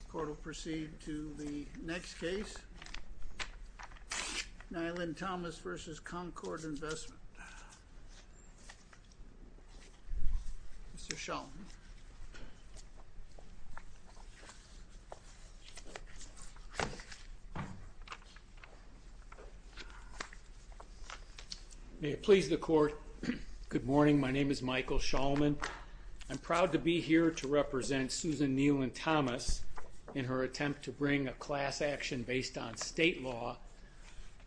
The court will proceed to the next case, Nielen-Thomas v. Concorde Investment. Mr. Shulman. May it please the court. Good morning, my name is Michael Shulman. I'm proud to be here to represent Susan Nielen-Thomas in her attempt to bring a class action based on state law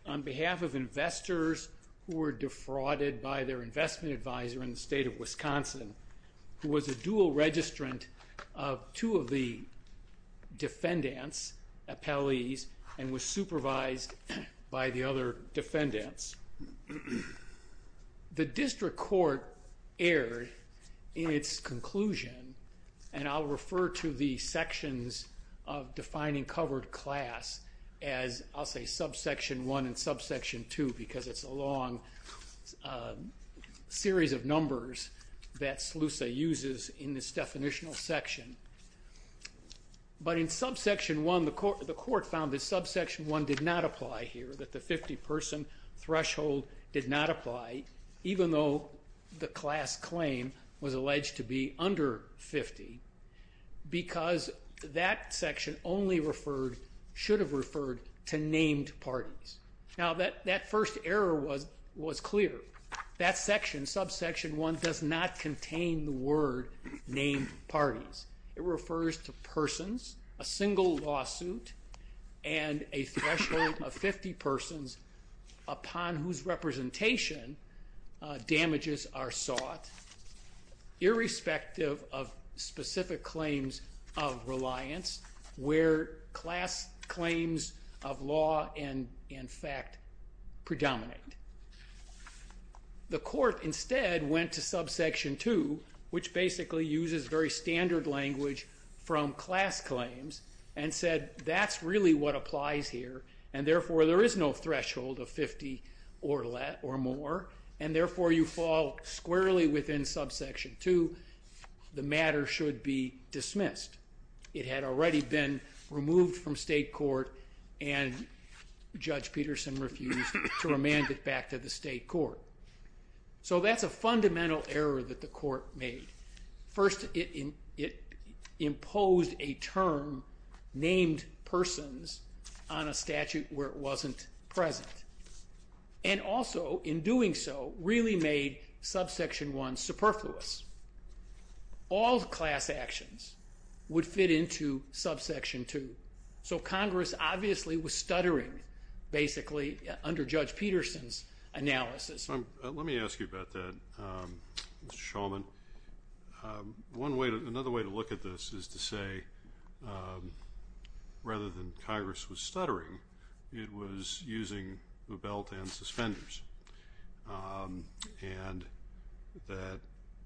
on behalf of investors who were defrauded by their investment advisor in the state of Wisconsin who was a dual registrant of two of the defendants' appellees and was supervised by the other defendants. The district court erred in its conclusion, and I'll refer to the sections of defining covered class as I'll say subsection 1 and subsection 2 because it's a long series of numbers that SLUSA uses in this definitional section. But in subsection 1, the court found that subsection 1 did not apply here, that the 50 person threshold did not apply even though the class claim was alleged to be under 50 because that section only should have referred to named parties. Now that first error was clear. That section, subsection 1, does not contain the word named parties. It refers to persons, a single lawsuit, and a threshold of 50 persons upon whose representation damages are sought irrespective of specific claims of reliance where class claims of law and fact predominate. The court instead went to subsection 2, which basically uses very standard language from class claims, and said that's really what applies here and therefore there is no threshold of 50 or more and therefore you fall squarely within subsection 2, the matter should be dismissed. It had already been removed from state court and Judge Peterson refused to remand it back to the state court. So that's a fundamental error that the court made. First, it imposed a term named persons on a statute where it wasn't present. And also, in doing so, really made subsection 1 superfluous. All class actions would fit into subsection 2. So Congress obviously was stuttering, basically, under Judge Peterson's analysis. Let me ask you about that, Mr. Shulman. Another way to look at this is to say, rather than Congress was stuttering, it was using the belt and suspenders. And that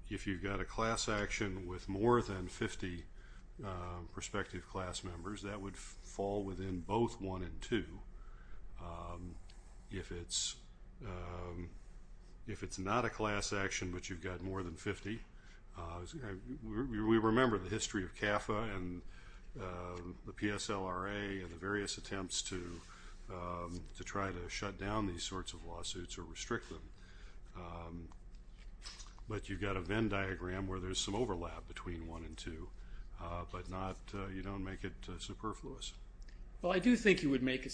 if you've got a class action with more than 50 prospective class members, that would fall within both 1 and 2. If it's not a class action but you've got more than 50, we remember the history of CAFA and the PSLRA and the various attempts to try to shut down these sorts of lawsuits or restrict them. But you've got a Venn diagram where there's some overlap between 1 and 2, but you don't make it superfluous. Well, I do think you would make it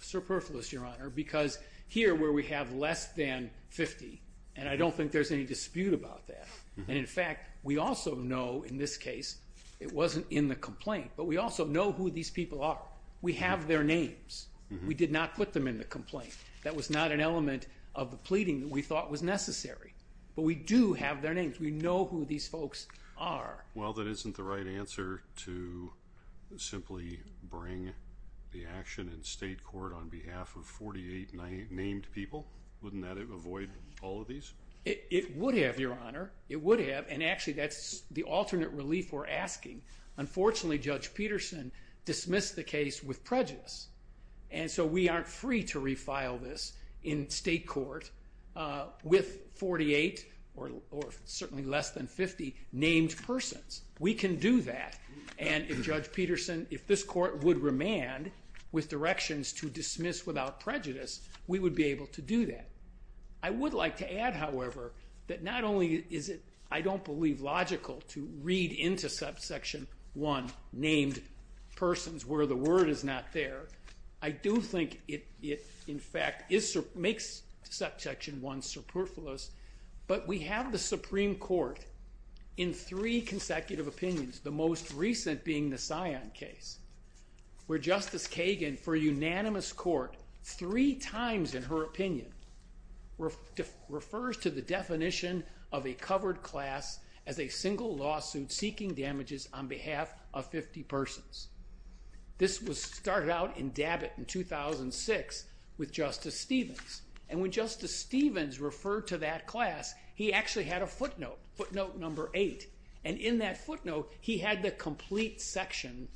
superfluous, Your Honor, because here where we have less than 50, and I don't think there's any dispute about that, and in fact, we also know in this case it wasn't in the complaint. But we also know who these people are. We have their names. We did not put them in the complaint. That was not an element of the pleading that we thought was necessary. But we do have their names. We know who these folks are. Well, that isn't the right answer to simply bring the action in state court on behalf of 48 named people. Wouldn't that avoid all of these? It would have, Your Honor. It would have, and actually that's the alternate relief we're asking. Unfortunately, Judge Peterson dismissed the case with prejudice, and so we aren't free to refile this in state court with 48 or certainly less than 50 named persons. We can do that, and if Judge Peterson, if this court would remand with directions to dismiss without prejudice, we would be able to do that. I would like to add, however, that not only is it, I don't believe, logical to read into subsection 1 named persons where the word is not there. I do think it, in fact, makes subsection 1 superfluous, but we have the Supreme Court in three consecutive opinions, the most recent being the Scion case, where Justice Kagan, for a unanimous court, three times in her opinion, refers to the definition of a covered class as a single lawsuit seeking damages on behalf of 50 persons. This was started out in Dabit in 2006 with Justice Stevens, and when Justice Stevens referred to that class, he actually had a footnote, footnote number 8, and in that footnote, he had the complete section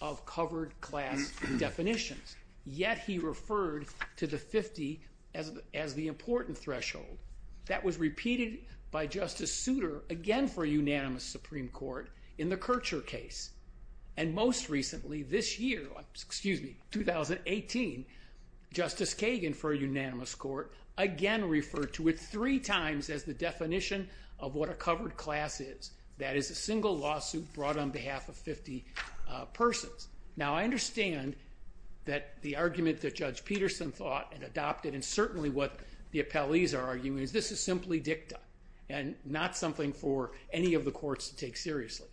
of covered class definitions, yet he referred to the 50 as the important threshold. That was repeated by Justice Souter, again for a unanimous Supreme Court, in the Kircher case, and most recently, this year, excuse me, 2018, Justice Kagan, for a unanimous court, again referred to it three times as the definition of what a covered class is, that is a single lawsuit brought on behalf of 50 persons. Now, I understand that the argument that Judge Peterson thought and adopted, and certainly what the appellees are arguing, is this is simply dicta, and not something for any of the courts to take seriously,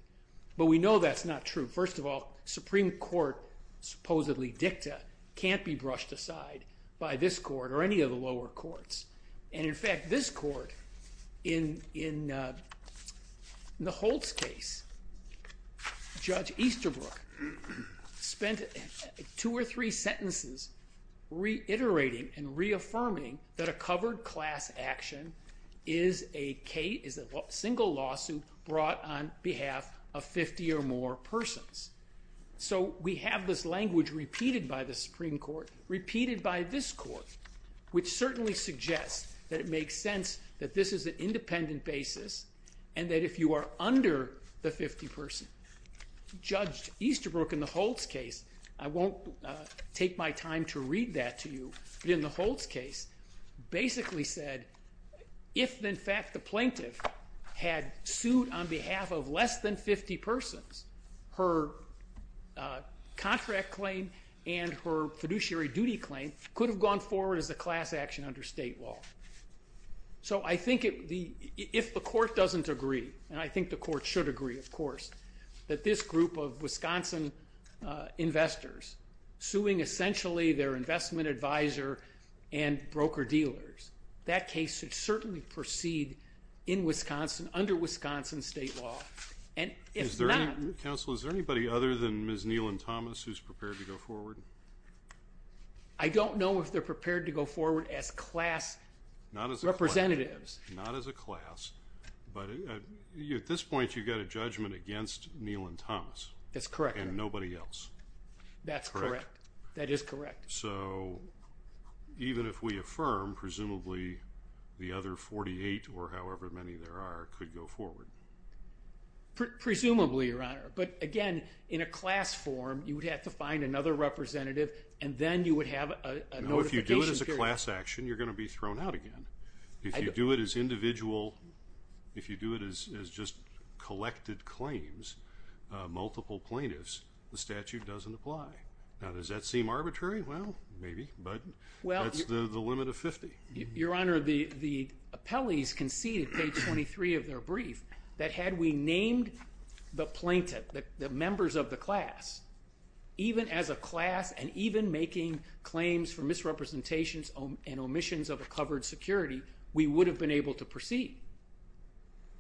but we know that's not true. First of all, Supreme Court supposedly dicta can't be brushed aside by this court or any of the lower courts, and in fact, this court, in the Holtz case, Judge Easterbrook spent two or three sentences reiterating and reaffirming that a covered class action is a single lawsuit brought on behalf of 50 or more persons. So, we have this language repeated by the Supreme Court, repeated by this court, which certainly suggests that it makes sense that this is an independent basis, and that if you are under the 50 person, Judge Easterbrook, in the Holtz case, I won't take my time to read that to you, but in the Holtz case, basically said, if, in fact, the plaintiff had sued on behalf of less than 50 persons, her contract claim and her fiduciary duty claim could have gone forward as a class action under state law. So, I think if the court doesn't agree, and I think the court should agree, of course, that this group of Wisconsin investors suing essentially their investment advisor and broker-dealers, that case should certainly proceed in Wisconsin, under Wisconsin state law. And if not... Counsel, is there anybody other than Ms. Neelan Thomas who's prepared to go forward? I don't know if they're prepared to go forward as class representatives. Not as a class, but at this point, you've got a judgment against Neelan Thomas. That's correct. And nobody else. That's correct. That is correct. So, even if we affirm, presumably, the other 48, or however many there are, could go forward. Presumably, Your Honor. But, again, in a class form, you would have to find another representative, and then you would have a notification period. No, if you do it as a class action, you're going to be thrown out again. If you do it as individual, if you do it as just collected claims, multiple plaintiffs, the statute doesn't apply. Now, does that seem arbitrary? Well, maybe, but that's the limit of 50. Your Honor, the appellees conceded, page 23 of their brief, that had we named the plaintiff, the members of the class, even as a class and even making claims for misrepresentations and omissions of a covered security, we would have been able to proceed.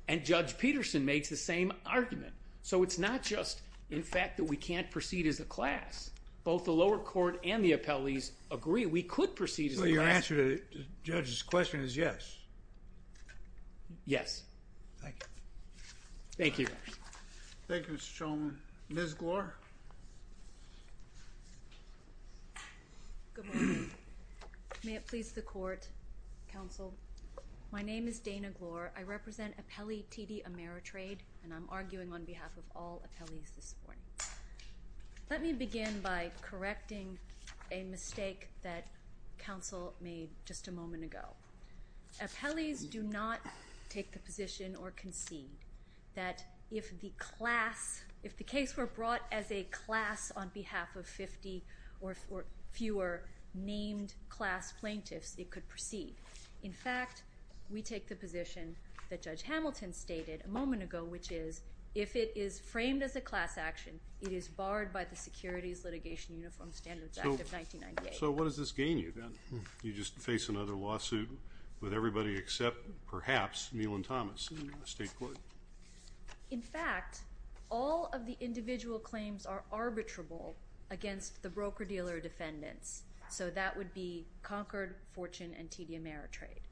And Judge Peterson makes the same argument. So, it's not just, in fact, that we can't proceed as a class. Both the lower court and the appellees agree we could proceed as a class. So, your answer to the judge's question is yes? Yes. Thank you. Thank you. Thank you, Mr. Shulman. Ms. Glor. Good morning. May it please the court, counsel. My name is Dana Glor. I represent Appellee TD Ameritrade, and I'm arguing on behalf of all appellees this morning. Let me begin by correcting a mistake that counsel made just a moment ago. Appellees do not take the position or concede that if the class, if the case were brought as a class on behalf of 50 or fewer named class plaintiffs, it could proceed. In fact, we take the position that Judge Hamilton stated a moment ago, which is if it is framed as a class action, it is barred by the Securities Litigation Uniform Standards Act of 1998. So, what does this gain you then? You just face another lawsuit with everybody except, perhaps, Neal and Thomas in the state court. In fact, all of the individual claims are arbitrable against the broker-dealer defendants. So, that would be Concord, Fortune, and TD Ameritrade.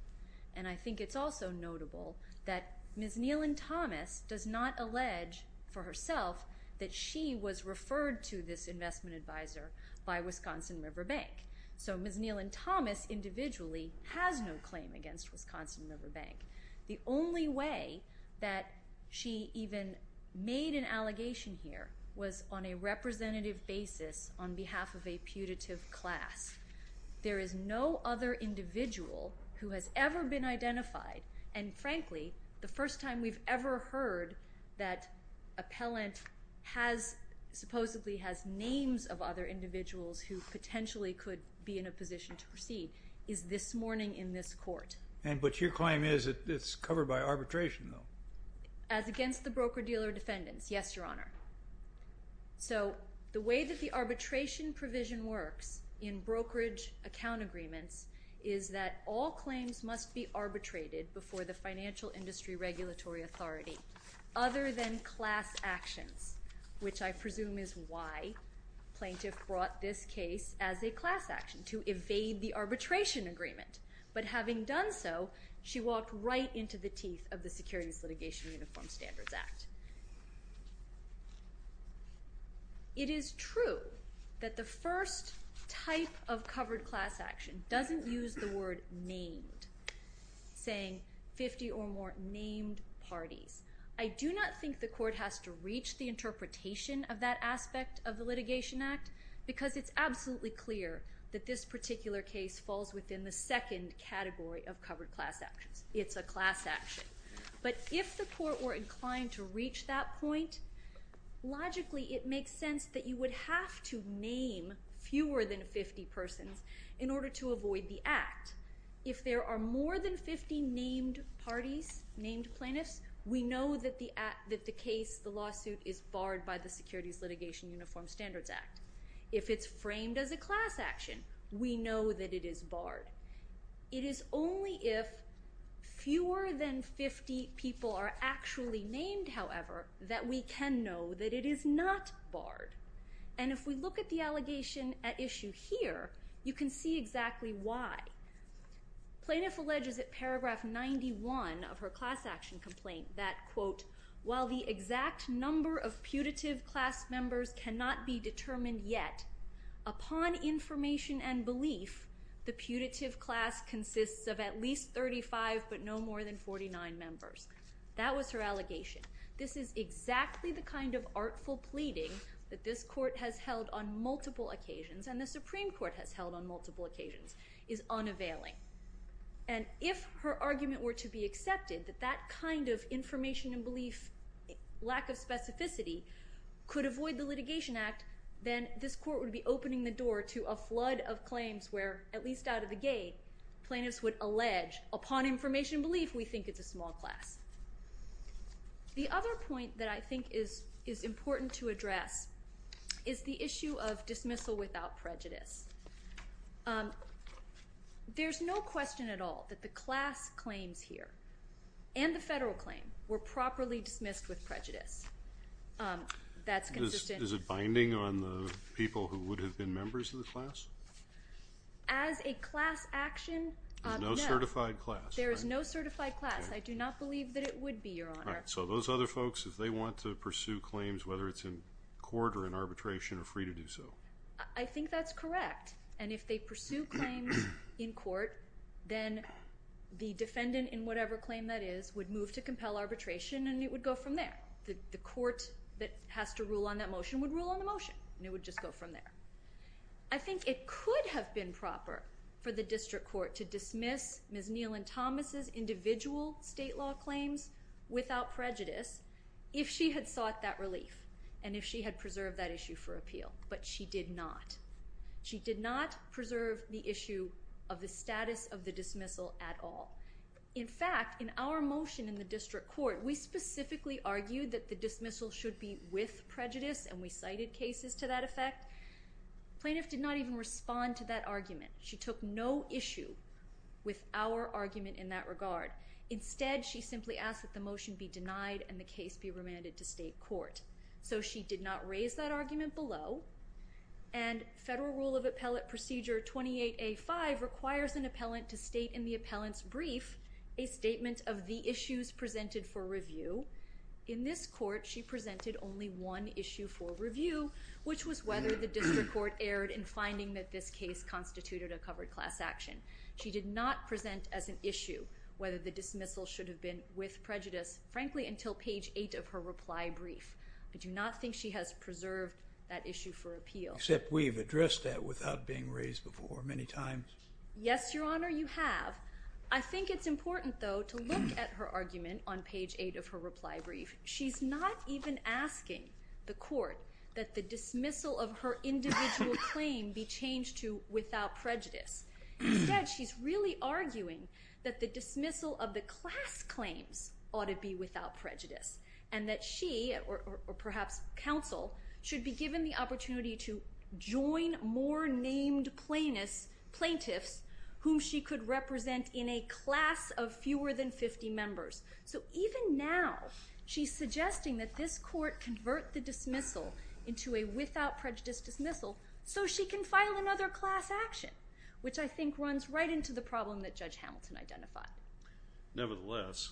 And I think it's also notable that Ms. Neal and Thomas does not allege for herself that she was referred to this investment advisor by Wisconsin River Bank. So, Ms. Neal and Thomas individually has no claim against Wisconsin River Bank. The only way that she even made an allegation here was on a representative basis on behalf of a putative class. There is no other individual who has ever been identified, and frankly, the first time we've ever heard that appellant has, supposedly has names of other individuals who potentially could be in a position to proceed is this morning in this court. But your claim is it's covered by arbitration though? As against the broker-dealer defendants, yes, Your Honor. So, the way that the arbitration provision works in brokerage account agreements is that all claims must be arbitrated before the financial industry regulatory authority other than class actions, which I presume is why plaintiff brought this case as a class action, to evade the arbitration agreement. But having done so, she walked right into the teeth of the Securities Litigation Uniform Standards Act. It is true that the first type of covered class action doesn't use the word named, saying 50 or more named parties. I do not think the court has to reach the interpretation of that aspect of the litigation act because it's absolutely clear that this particular case falls within the second category of covered class actions. It's a class action. But if the court were inclined to reach that point, logically it makes sense that you would have to name fewer than 50 persons in order to avoid the act. If there are more than 50 named parties, named plaintiffs, we know that the case, the lawsuit, is barred by the Securities Litigation Uniform Standards Act. If it's framed as a class action, we know that it is barred. It is only if fewer than 50 people are actually named, however, that we can know that it is not barred. And if we look at the allegation at issue here, you can see exactly why. Plaintiff alleges at paragraph 91 of her class action complaint that, quote, while the exact number of putative class members cannot be determined yet, upon information and belief, the putative class consists of at least 35 but no more than 49 members. That was her allegation. This is exactly the kind of artful pleading that this court has held on multiple occasions and the Supreme Court has held on multiple occasions, is unavailing. And if her argument were to be accepted that that kind of information and belief lack of specificity could avoid the litigation act, then this court would be opening the door to a flood of claims where, at least out of the gate, plaintiffs would allege, upon information and belief, we think it's a small class. The other point that I think is important to address is the issue of dismissal without prejudice. There's no question at all that the class claims here and the federal claim were properly dismissed with prejudice. That's consistent. Is it binding on the people who would have been members of the class? As a class action, no. There's no certified class. There is no certified class. I do not believe that it would be, Your Honor. So those other folks, if they want to pursue claims, whether it's in court or in arbitration, are free to do so. I think that's correct. And if they pursue claims in court, then the defendant in whatever claim that is would move to compel arbitration and it would go from there. The court that has to rule on that motion would rule on the motion and it would just go from there. I think it could have been proper for the district court to dismiss Ms. Neal and Thomas's individual state law claims without prejudice if she had sought that relief and if she had preserved that issue for appeal. But she did not. She did not preserve the issue of the status of the dismissal at all. In fact, in our motion in the district court, we specifically argued that the dismissal should be with prejudice and we cited cases to that effect. The plaintiff did not even respond to that argument. She took no issue with our argument in that regard. Instead, she simply asked that the motion be denied and the case be remanded to state court. So she did not raise that argument below. And Federal Rule of Appellate Procedure 28A.5 requires an appellant to state in the appellant's brief a statement of the issues presented for review. In this court, she presented only one issue for review, which was whether the district court erred in finding that this case constituted a covered class action. She did not present as an issue whether the dismissal should have been with prejudice, frankly, until page 8 of her reply brief. I do not think she has preserved that issue for appeal. Except we've addressed that without being raised before many times. Yes, Your Honor, you have. I think it's important, though, to look at her argument on page 8 of her reply brief. She's not even asking the court that the dismissal of her individual claim be changed to without prejudice. Instead, she's really arguing that the dismissal of the class claims ought to be without prejudice and that she, or perhaps counsel, should be given the opportunity to join more named plaintiffs whom she could represent in a class of fewer than 50 members. So even now, she's suggesting that this court convert the dismissal into a without prejudice dismissal so she can file another class action, which I think runs right into the problem that Judge Hamilton identified. Nevertheless,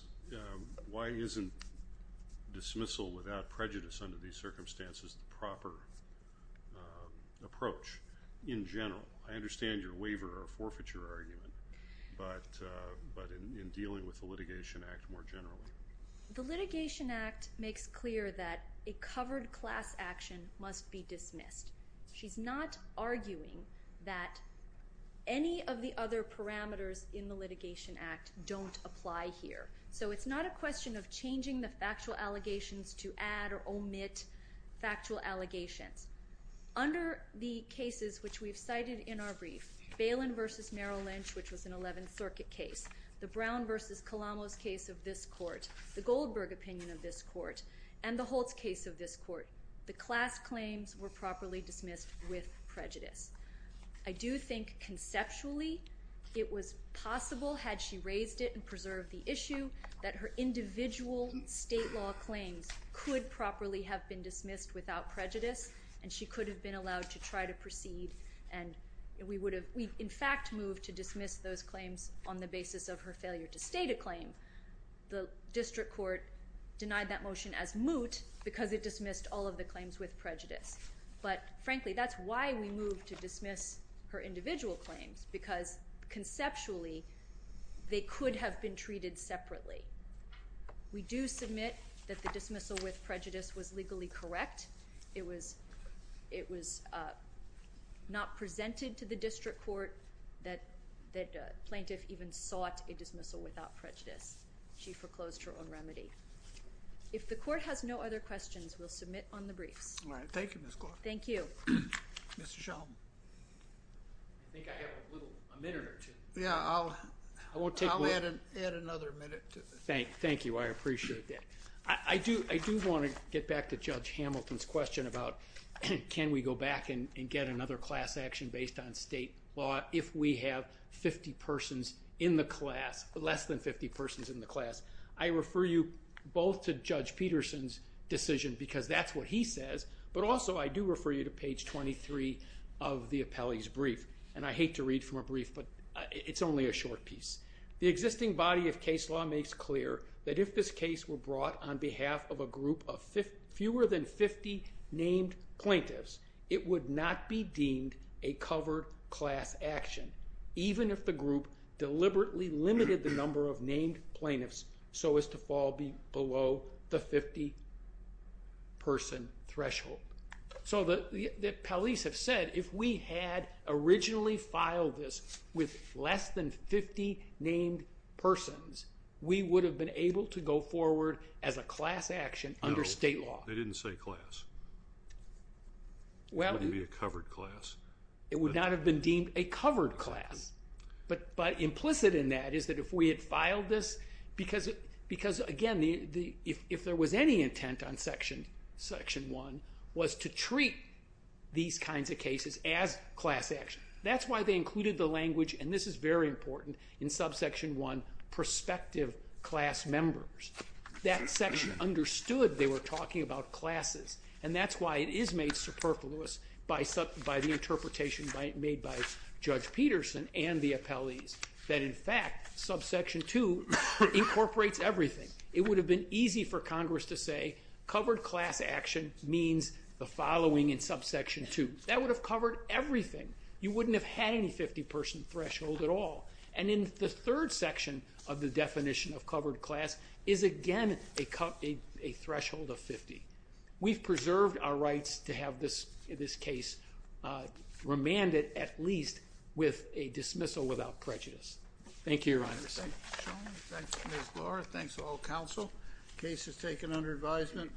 why isn't dismissal without prejudice under these circumstances the proper approach in general? I understand your waiver or forfeiture argument, but in dealing with the Litigation Act more generally. The Litigation Act makes clear that a covered class action must be dismissed. She's not arguing that any of the other parameters in the Litigation Act don't apply here. So it's not a question of changing the factual allegations to add or omit factual allegations. Under the cases which we've cited in our brief, Balin v. Merrill Lynch, which was an Eleventh Circuit case, the Brown v. Colombo's case of this court, the Goldberg opinion of this court, and the Holtz case of this court, the class claims were properly dismissed with prejudice. I do think conceptually it was possible, had she raised it and preserved the issue, that her individual state law claims could properly have been dismissed without prejudice and she could have been allowed to try to proceed and we would have in fact moved to dismiss those claims on the basis of her failure to state a claim. The District Court denied that motion as moot because it dismissed all of the claims with prejudice. But frankly, that's why we moved to dismiss her individual claims, because conceptually they could have been treated separately. We do submit that the dismissal with prejudice was legally correct. It was not presented to the District Court that a plaintiff even sought a dismissal without prejudice. She foreclosed her own remedy. If the court has no other questions, we'll submit on the briefs. All right. Thank you, Ms. Clark. Thank you. Mr. Sheldon. I think I have a minute or two. Yeah, I'll add another minute. Thank you. I appreciate that. I do want to get back to Judge Hamilton's question about can we go back and get another class action based on state law if we have 50 persons in the class, less than 50 persons in the class. I refer you both to Judge Peterson's decision because that's what he says, but also I do refer you to page 23 of the appellee's brief. And I hate to read from a brief, but it's only a short piece. The existing body of case law makes clear that if this case were brought on behalf of a group of fewer than 50 named plaintiffs, it would not be deemed a covered class action, even if the group deliberately limited the number of named plaintiffs so as to fall below the 50-person threshold. So the appellees have said if we had originally filed this with less than 50 named persons, we would have been able to go forward as a class action under state law. No, they didn't say class. It wouldn't be a covered class. It would not have been deemed a covered class. But implicit in that is that if we had filed this because, again, if there was any intent on Section 1 was to treat these kinds of cases as class action. That's why they included the language, and this is very important, in Subsection 1, prospective class members. That section understood they were talking about classes, and that's why it is made superfluous by the interpretation made by Judge Peterson and the appellees that, in fact, Subsection 2 incorporates everything. It would have been easy for Congress to say covered class action means the following in Subsection 2. That would have covered everything. You wouldn't have had any 50-person threshold at all. And in the third section of the definition of covered class is, again, a threshold of 50. We've preserved our rights to have this case remanded at least with a dismissal without prejudice. Thank you, Your Honor. Ms. Blore, thanks to all counsel. Case is taken under advisement.